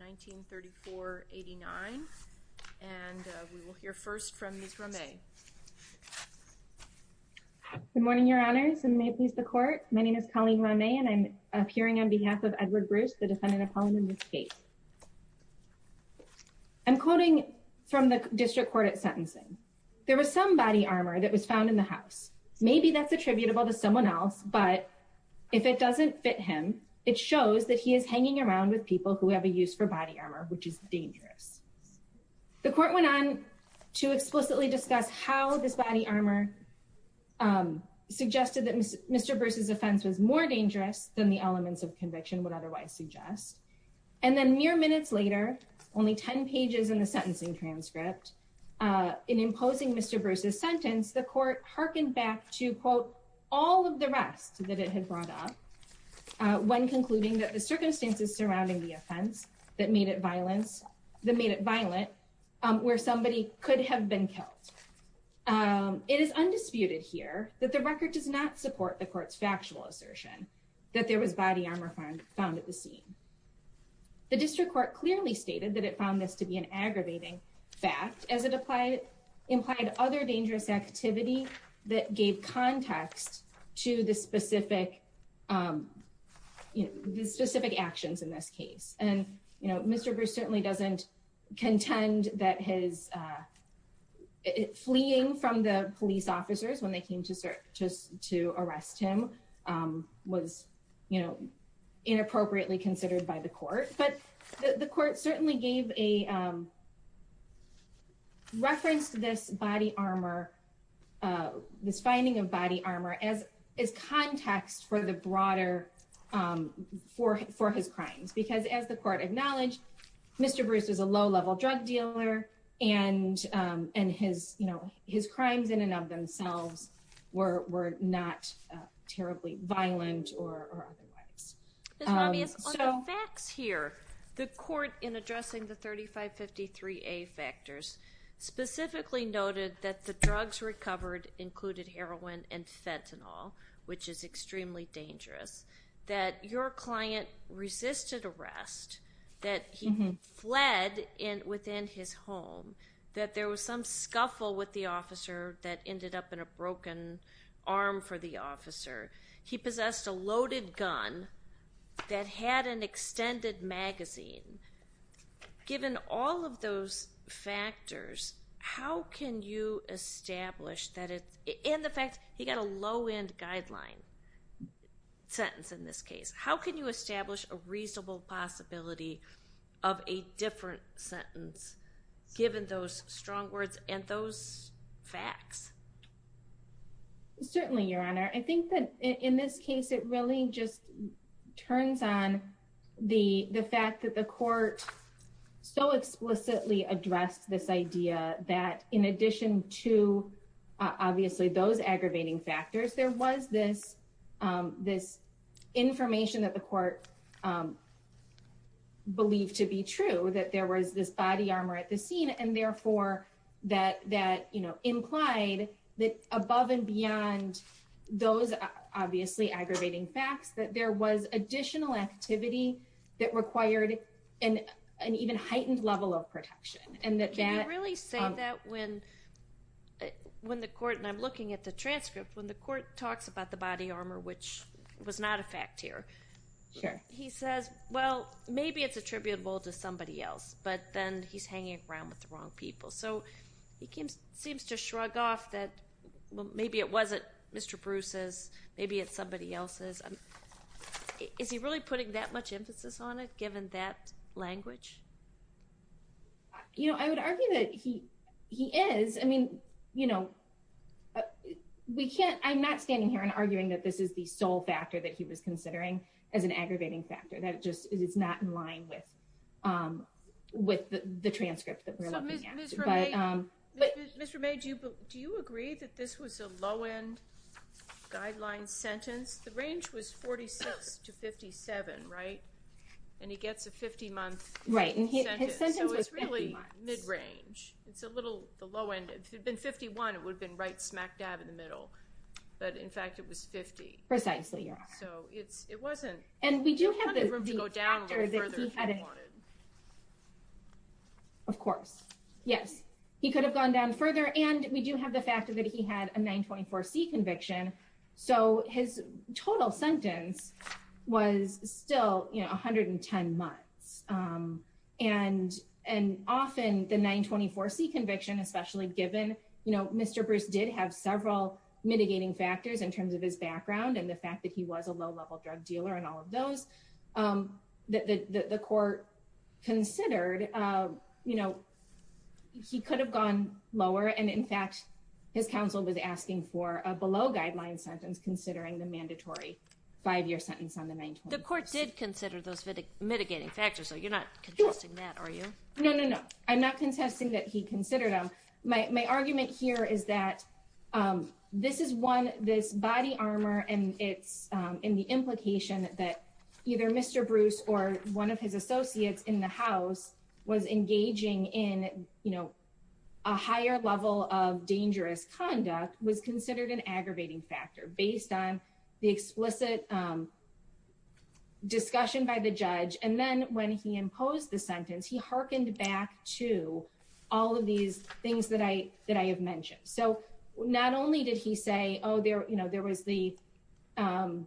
1934-89. And we will hear first from Ms. Rameh. Good morning, Your Honors, and may it please the Court. My name is Colleen Rameh, and I am appearing on behalf of Edward Bruce, the defendant of Holloman v. Gates. I'm quoting from the District Court at sentencing. There was some body armor that was found in the house. Maybe that's attributable to someone else, but if it doesn't fit him, it shows that he is hanging around with people who have a use for body armor, which is dangerous. The Court went on to explicitly discuss how this body armor suggested that Mr. Bruce's offense was more dangerous than the elements of conviction would otherwise suggest. And then mere minutes later, only 10 pages in the sentencing transcript, in imposing Mr. Bruce's sentence, the Court hearkened back to, quote, all of the rest that it had brought up, when concluding that the circumstances surrounding the offense that made it violent, where somebody could have been killed. It is undisputed here that the record does not support the Court's factual assertion that there was body armor found at the scene. The District Court clearly stated that it found this to be an aggravating fact, as it implied other dangerous activity that gave context to the specific actions in this case. And, you know, Mr. Bruce certainly doesn't contend that his fleeing from the police officers when they came to arrest him was, you know, inappropriately considered by the Court. But the Court certainly gave a reference to this body armor, this finding of body armor, as context for the broader, for his crimes. Because, as the Court acknowledged, Mr. Bruce was a low-level drug dealer, and his, you know, his crimes in and of themselves were not terribly violent or otherwise. Ms. Ramirez, on the facts here, the Court, in addressing the 3553A factors, specifically noted that the drugs recovered included heroin and fentanyl, which is extremely dangerous. That your client resisted arrest. That he fled within his home. That there was some scuffle with the officer that ended up in a broken arm for the officer. He possessed a loaded gun that had an extended magazine. Given all of those factors, how can you establish that it's, and the fact he got a low-end guideline sentence in this case. How can you establish a reasonable possibility of a different sentence, given those strong words and those facts? Certainly, Your Honor. I think that, in this case, it really just turns on the fact that the Court so explicitly addressed this idea that, in addition to, obviously, those aggravating factors, there was this information that the Court believed to be true. That there was this body armor at the scene and, therefore, that implied that, above and beyond those, obviously, aggravating facts, that there was additional activity that required an even heightened level of protection. Can you really say that when the Court, and I'm looking at the transcript, when the Court talks about the body armor, which was not a fact here. Sure. He says, well, maybe it's attributable to somebody else, but then he's hanging around with the wrong people. So he seems to shrug off that, well, maybe it wasn't Mr. Bruce's. Maybe it's somebody else's. Is he really putting that much emphasis on it, given that language? You know, I would argue that he is. I mean, you know, we can't, I'm not standing here and arguing that this is the sole factor that he was considering as an aggravating factor. That it just is not in line with the transcript that we're looking at. Mr. May, do you agree that this was a low-end guideline sentence? The range was 46 to 57, right? And he gets a 50-month sentence. So it's really mid-range. It's a little, the low end, if it had been 51, it would have been right smack dab in the middle. But, in fact, it was 50. Precisely, yeah. So it wasn't, there's plenty of room to go down further if you wanted. Of course, yes. He could have gone down further. And we do have the fact that he had a 924C conviction. So his total sentence was still, you know, 110 months. And often the 924C conviction, especially given, you know, Mr. Bruce did have several mitigating factors in terms of his background. And the fact that he was a low-level drug dealer and all of those. The court considered, you know, he could have gone lower. And, in fact, his counsel was asking for a below-guideline sentence considering the mandatory five-year sentence on the 924C. The court did consider those mitigating factors. So you're not contesting that, are you? No, no, no. I'm not contesting that he considered them. My argument here is that this is one, this body armor and it's in the implication that either Mr. Bruce or one of his associates in the house was engaging in, you know, a higher level of dangerous conduct was considered an aggravating factor based on the explicit discussion by the judge. And then when he imposed the sentence, he hearkened back to all of these things that I have mentioned. So not only did he say, oh, you know, there was the Mr.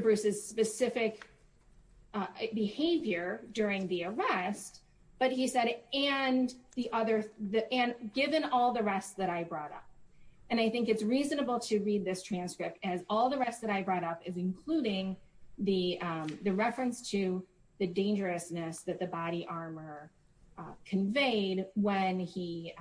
Bruce's specific behavior during the arrest, but he said, and the other, and given all the rest that I brought up. And I think it's reasonable to read this transcript as all the rest that I brought up is including the reference to the dangerousness that the body armor conveyed when he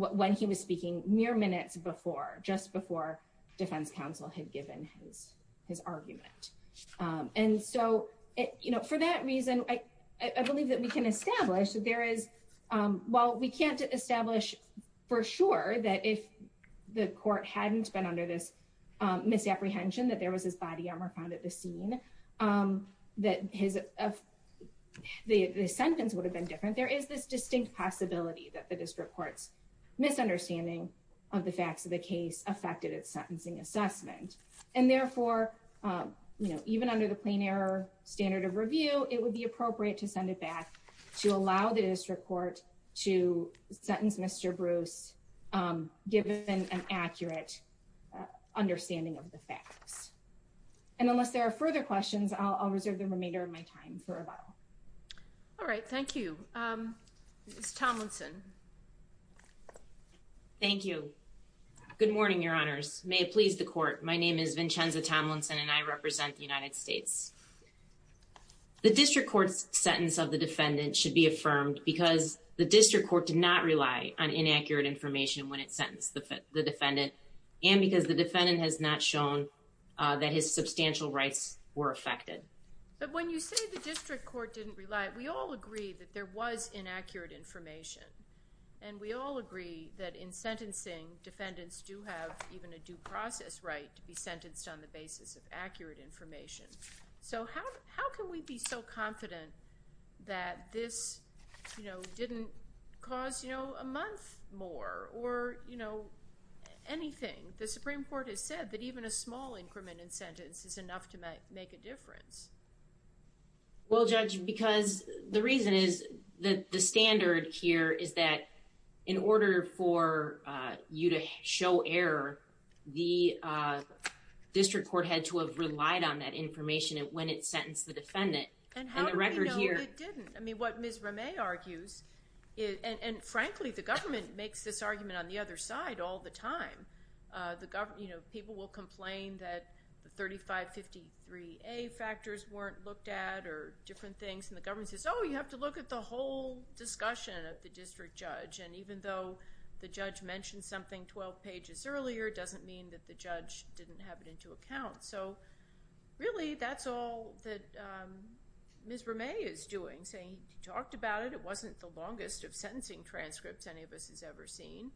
was speaking mere minutes before, just before defense counsel had given his argument. And so, you know, for that reason, I believe that we can establish that there is, while we can't establish for sure that if the court hadn't been under this misapprehension, that there was this body armor found at the scene, that his, the sentence would have been different. But there is this distinct possibility that the district court's misunderstanding of the facts of the case affected its sentencing assessment. And therefore, you know, even under the plain error standard of review, it would be appropriate to send it back to allow the district court to sentence Mr. Bruce, given an accurate understanding of the facts. And unless there are further questions, I'll reserve the remainder of my time for about. All right, thank you. Tomlinson. Thank you. Good morning, Your Honors. May it please the court. My name is Vincenza Tomlinson and I represent the United States. The district court's sentence of the defendant should be affirmed because the district court did not rely on inaccurate information when it sentenced the defendant. And because the defendant has not shown that his substantial rights were affected. But when you say the district court didn't rely, we all agree that there was inaccurate information. And we all agree that in sentencing, defendants do have even a due process right to be sentenced on the basis of accurate information. So how can we be so confident that this, you know, didn't cause, you know, a month more or, you know, anything? The Supreme Court has said that even a small increment in sentence is enough to make a difference. Well, Judge, because the reason is that the standard here is that in order for you to show error, the district court had to have relied on that information when it sentenced the defendant. And how do we know it didn't? I mean, what Ms. Ramay argues, and frankly, the government makes this argument on the other side all the time. The government, you know, people will complain that the 3553A factors weren't looked at or different things. And the government says, oh, you have to look at the whole discussion of the district judge. And even though the judge mentioned something 12 pages earlier, it doesn't mean that the judge didn't have it into account. So really, that's all that Ms. Ramay is doing, saying he talked about it. It wasn't the longest of sentencing transcripts any of us has ever seen.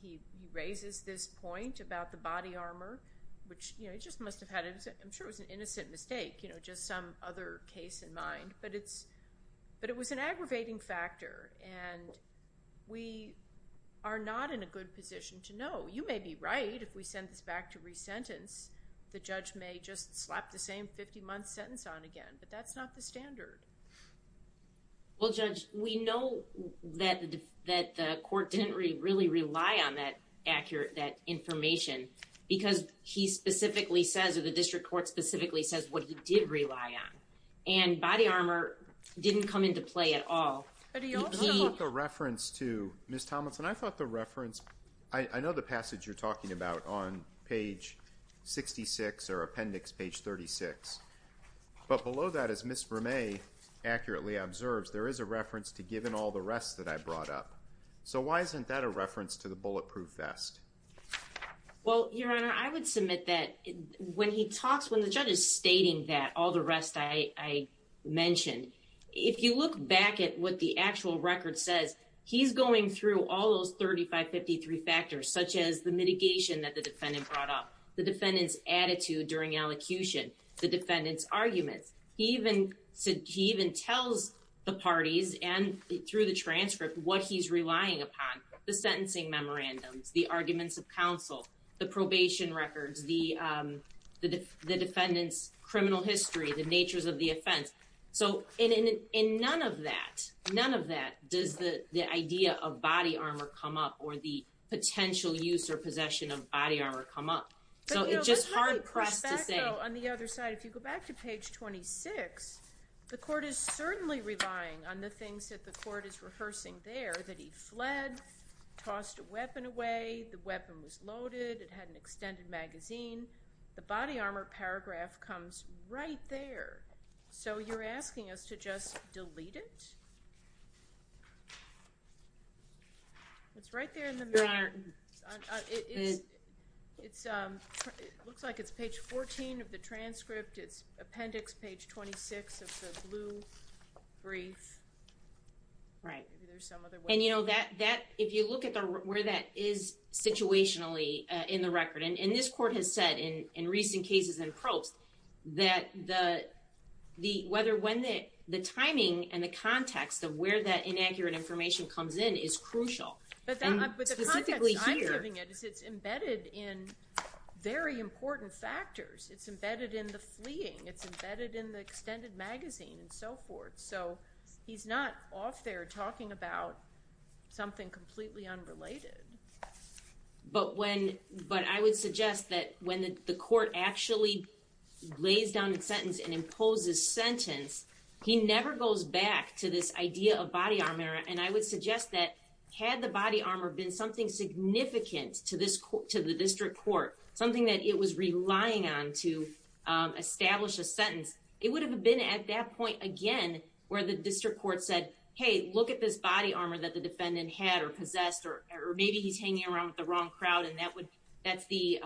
He raises this point about the body armor, which, you know, he just must have had it. I'm sure it was an innocent mistake, you know, just some other case in mind. But it was an aggravating factor, and we are not in a good position to know. You may be right if we send this back to re-sentence. The judge may just slap the same 50-month sentence on again, but that's not the standard. Well, Judge, we know that the court didn't really rely on that accurate information because he specifically says, or the district court specifically says what he did rely on. And body armor didn't come into play at all. I thought the reference to Ms. Thomas, and I thought the reference, I know the passage you're talking about on page 66 or appendix page 36. But below that, as Ms. Ramay accurately observes, there is a reference to given all the rest that I brought up. So why isn't that a reference to the bulletproof vest? Well, Your Honor, I would submit that when he talks, when the judge is stating that, all the rest I mentioned, if you look back at what the actual record says, he's going through all those 3553 factors, such as the mitigation that the defendant brought up, the defendant's attitude during elocution, the defendant's arguments. He even tells the parties and through the transcript what he's relying upon, the sentencing memorandums, the arguments of counsel, the probation records, the defendant's criminal history, the natures of the offense. So in none of that, none of that does the idea of body armor come up or the potential use or possession of body armor come up. So it's just hard pressed to say. On the other side, if you go back to page 26, the court is certainly relying on the things that the court is rehearsing there, that he fled, tossed a weapon away, the weapon was loaded, it had an extended magazine. The body armor paragraph comes right there. So you're asking us to just delete it? It's right there in the middle. It looks like it's page 14 of the transcript. It's appendix page 26 of the blue brief. Right. And, you know, if you look at where that is situationally in the record, and this court has said in recent cases and probes that the timing and the context of where that inaccurate information comes in is crucial. But the context I'm giving it is it's embedded in very important factors. It's embedded in the fleeing. It's embedded in the extended magazine and so forth. So he's not off there talking about something completely unrelated. But I would suggest that when the court actually lays down a sentence and imposes sentence, he never goes back to this idea of body armor. And I would suggest that had the body armor been something significant to the district court, something that it was relying on to establish a sentence, it would have been at that point again where the district court said, hey, look at this body armor that the defendant had or possessed, or maybe he's hanging around with the wrong crowd, and that's the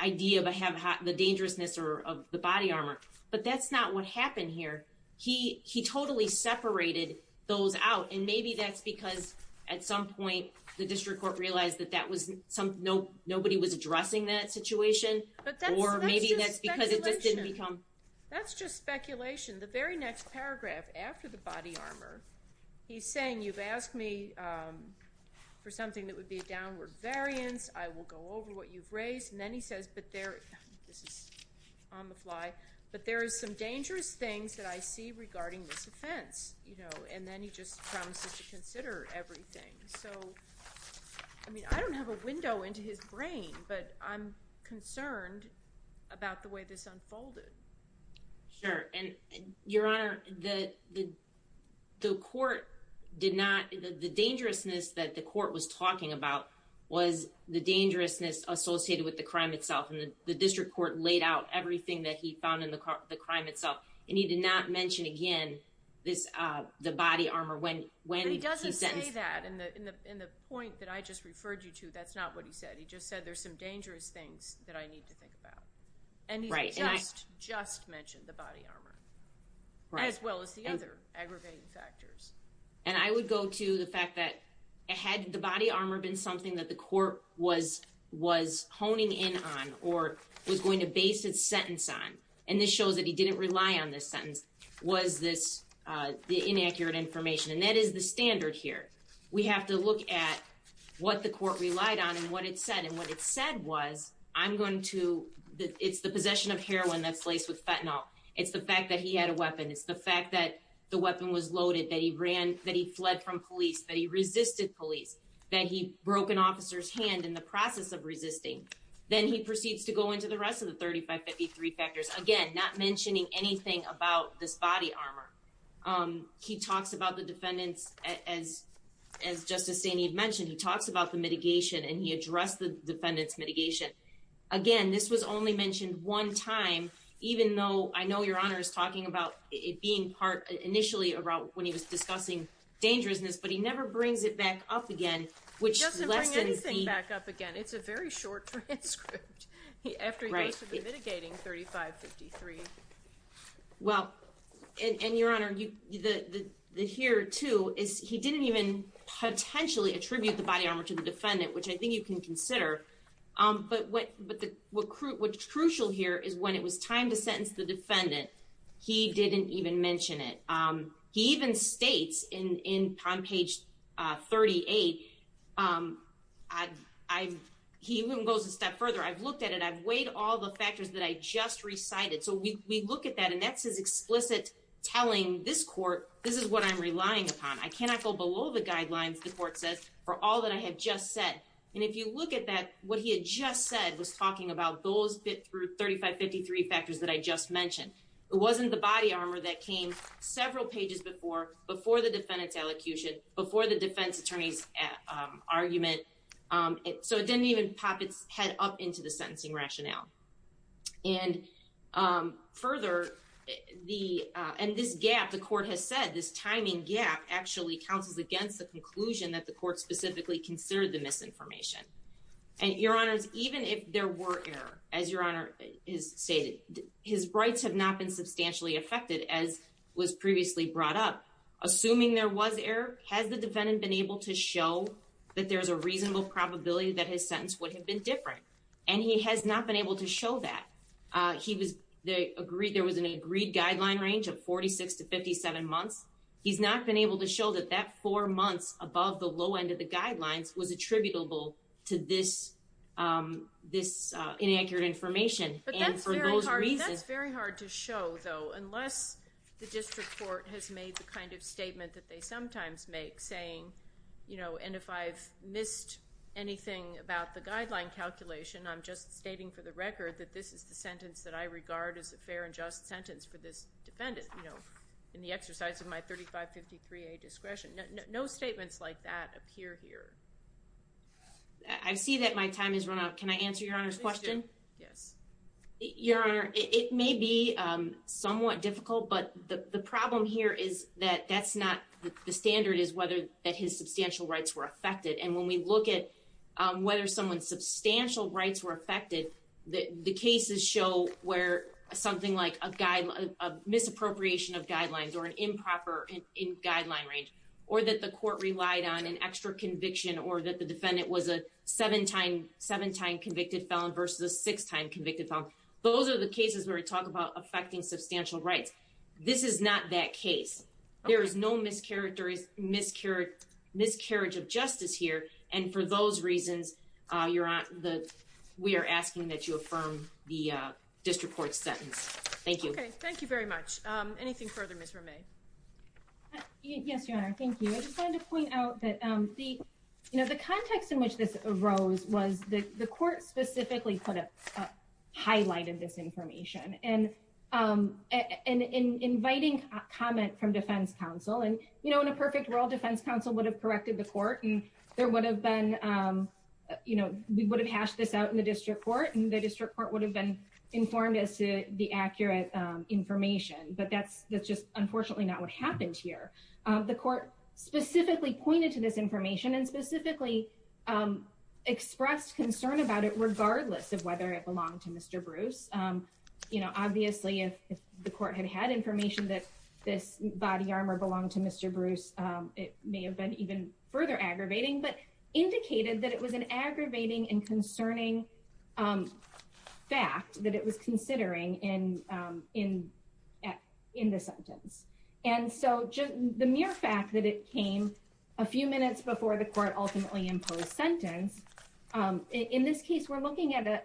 idea of the dangerousness of the body armor. But that's not what happened here. He totally separated those out, and maybe that's because at some point the district court realized that nobody was addressing that situation, or maybe that's because it just didn't become. That's just speculation. The very next paragraph after the body armor, he's saying, you've asked me for something that would be a downward variance. I will go over what you've raised. And then he says, but there is some dangerous things that I see regarding this offense. And then he just promises to consider everything. So, I mean, I don't have a window into his brain, but I'm concerned about the way this unfolded. Sure. And, Your Honor, the court did not, the dangerousness that the court was talking about was the dangerousness associated with the crime itself, and the district court laid out everything that he found in the crime itself, and he did not mention again the body armor when he sentenced. But he doesn't say that in the point that I just referred you to. That's not what he said. He just said there's some dangerous things that I need to think about. Right. And he just mentioned the body armor as well as the other aggravating factors. And I would go to the fact that had the body armor been something that the court was honing in on or was going to base its sentence on, and this shows that he didn't rely on this sentence, was this the inaccurate information. And that is the standard here. We have to look at what the court relied on and what it said. And what it said was I'm going to, it's the possession of heroin that's laced with fentanyl. It's the fact that he had a weapon. It's the fact that the weapon was loaded, that he fled from police, that he resisted police, that he broke an officer's hand in the process of resisting. Then he proceeds to go into the rest of the 3553 factors, again, not mentioning anything about this body armor. He talks about the defendants, as Justice Staney had mentioned, he talks about the mitigation and he addressed the defendants' mitigation. Again, this was only mentioned one time, even though I know Your Honor is talking about it being part, initially when he was discussing dangerousness, but he never brings it back up again. He doesn't bring anything back up again. It's a very short transcript after he goes through mitigating 3553. Well, and Your Honor, here too, he didn't even potentially attribute the body armor to the defendant, which I think you can consider, but what's crucial here is when it was time to sentence the defendant, he didn't even mention it. He even states in page 38, he even goes a step further. I've looked at it. I've weighed all the factors that I just recited. So we look at that, and that's his explicit telling this court, this is what I'm relying upon. I cannot go below the guidelines, the court says, for all that I have just said. And if you look at that, what he had just said was talking about those bit through 3553 factors that I just mentioned. It wasn't the body armor that came several pages before, before the defendant's elocution, before the defense attorney's argument. So it didn't even pop its head up into the sentencing rationale. And further, and this gap, the court has said, this timing gap actually counsels against the conclusion that the court specifically considered the misinformation. And Your Honors, even if there were error, as Your Honor has stated, his rights have not been substantially affected as was previously brought up. Assuming there was error, has the defendant been able to show that there's a reasonable probability that his sentence would have been different? And he has not been able to show that. There was an agreed guideline range of 46 to 57 months. He's not been able to show that that four months above the low end of the guidelines was attributable to this inaccurate information. But that's very hard to show, though, unless the district court has made the kind of statement that they sometimes make, saying, and if I've missed anything about the guideline calculation, I'm just stating for the record that this is the sentence that I regard as a fair and just sentence for this defendant, in the exercise of my 3553A discretion. No statements like that appear here. I see that my time has run out. Can I answer Your Honor's question? Yes. Your Honor, it may be somewhat difficult, but the problem here is that that's not the standard is whether that his substantial rights were affected. And when we look at whether someone's substantial rights were affected, the cases show where something like a misappropriation of guidelines or an improper in guideline range, or that the court relied on an extra conviction or that the defendant was a seven time convicted felon versus a six time convicted felon. Those are the cases where we talk about affecting substantial rights. This is not that case. There is no miscarriage of justice here. And for those reasons, we are asking that you affirm the district court sentence. Thank you. Thank you very much. Anything further, Ms. Romay? Yes, Your Honor. Thank you. I just wanted to point out that the, you know, the context in which this arose was that the court specifically put a highlight of this information. And in inviting comment from defense counsel and, you know, in a perfect world, defense counsel would have corrected the court. And there would have been, you know, we would have hashed this out in the district court. And the district court would have been informed as to the accurate information. But that's just unfortunately not what happened here. The court specifically pointed to this information and specifically expressed concern about it, regardless of whether it belonged to Mr. Bruce. You know, obviously, if the court had had information that this body armor belonged to Mr. Bruce, it may have been even further aggravating, but indicated that it was an aggravating and concerning fact that it was considering in the sentence. And so the mere fact that it came a few minutes before the court ultimately imposed sentence, in this case, we're looking at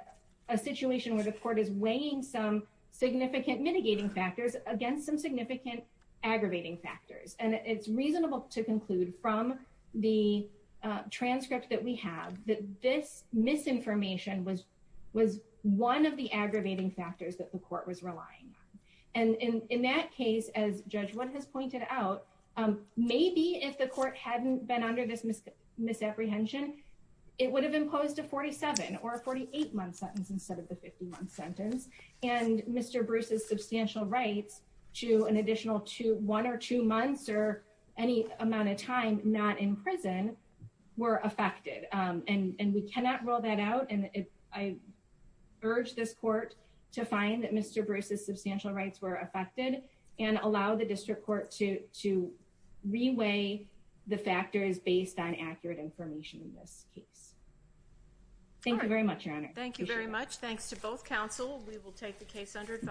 a situation where the court is weighing some significant mitigating factors against some significant aggravating factors. And it's reasonable to conclude from the transcript that we have that this misinformation was one of the aggravating factors that the court was relying on. And in that case, as Judge Wood has pointed out, maybe if the court hadn't been under this misapprehension, it would have imposed a 47 or 48 month sentence instead of the 50 month sentence. And Mr. Bruce's substantial rights to an additional two, one or two months or any amount of time not in prison were affected. And we cannot rule that out. And I urge this court to find that Mr. Bruce's substantial rights were affected and allow the district court to reweigh the factors based on accurate information in this case. Thank you very much, Your Honor. Thank you very much. Thanks to both counsel. We will take the case under advice.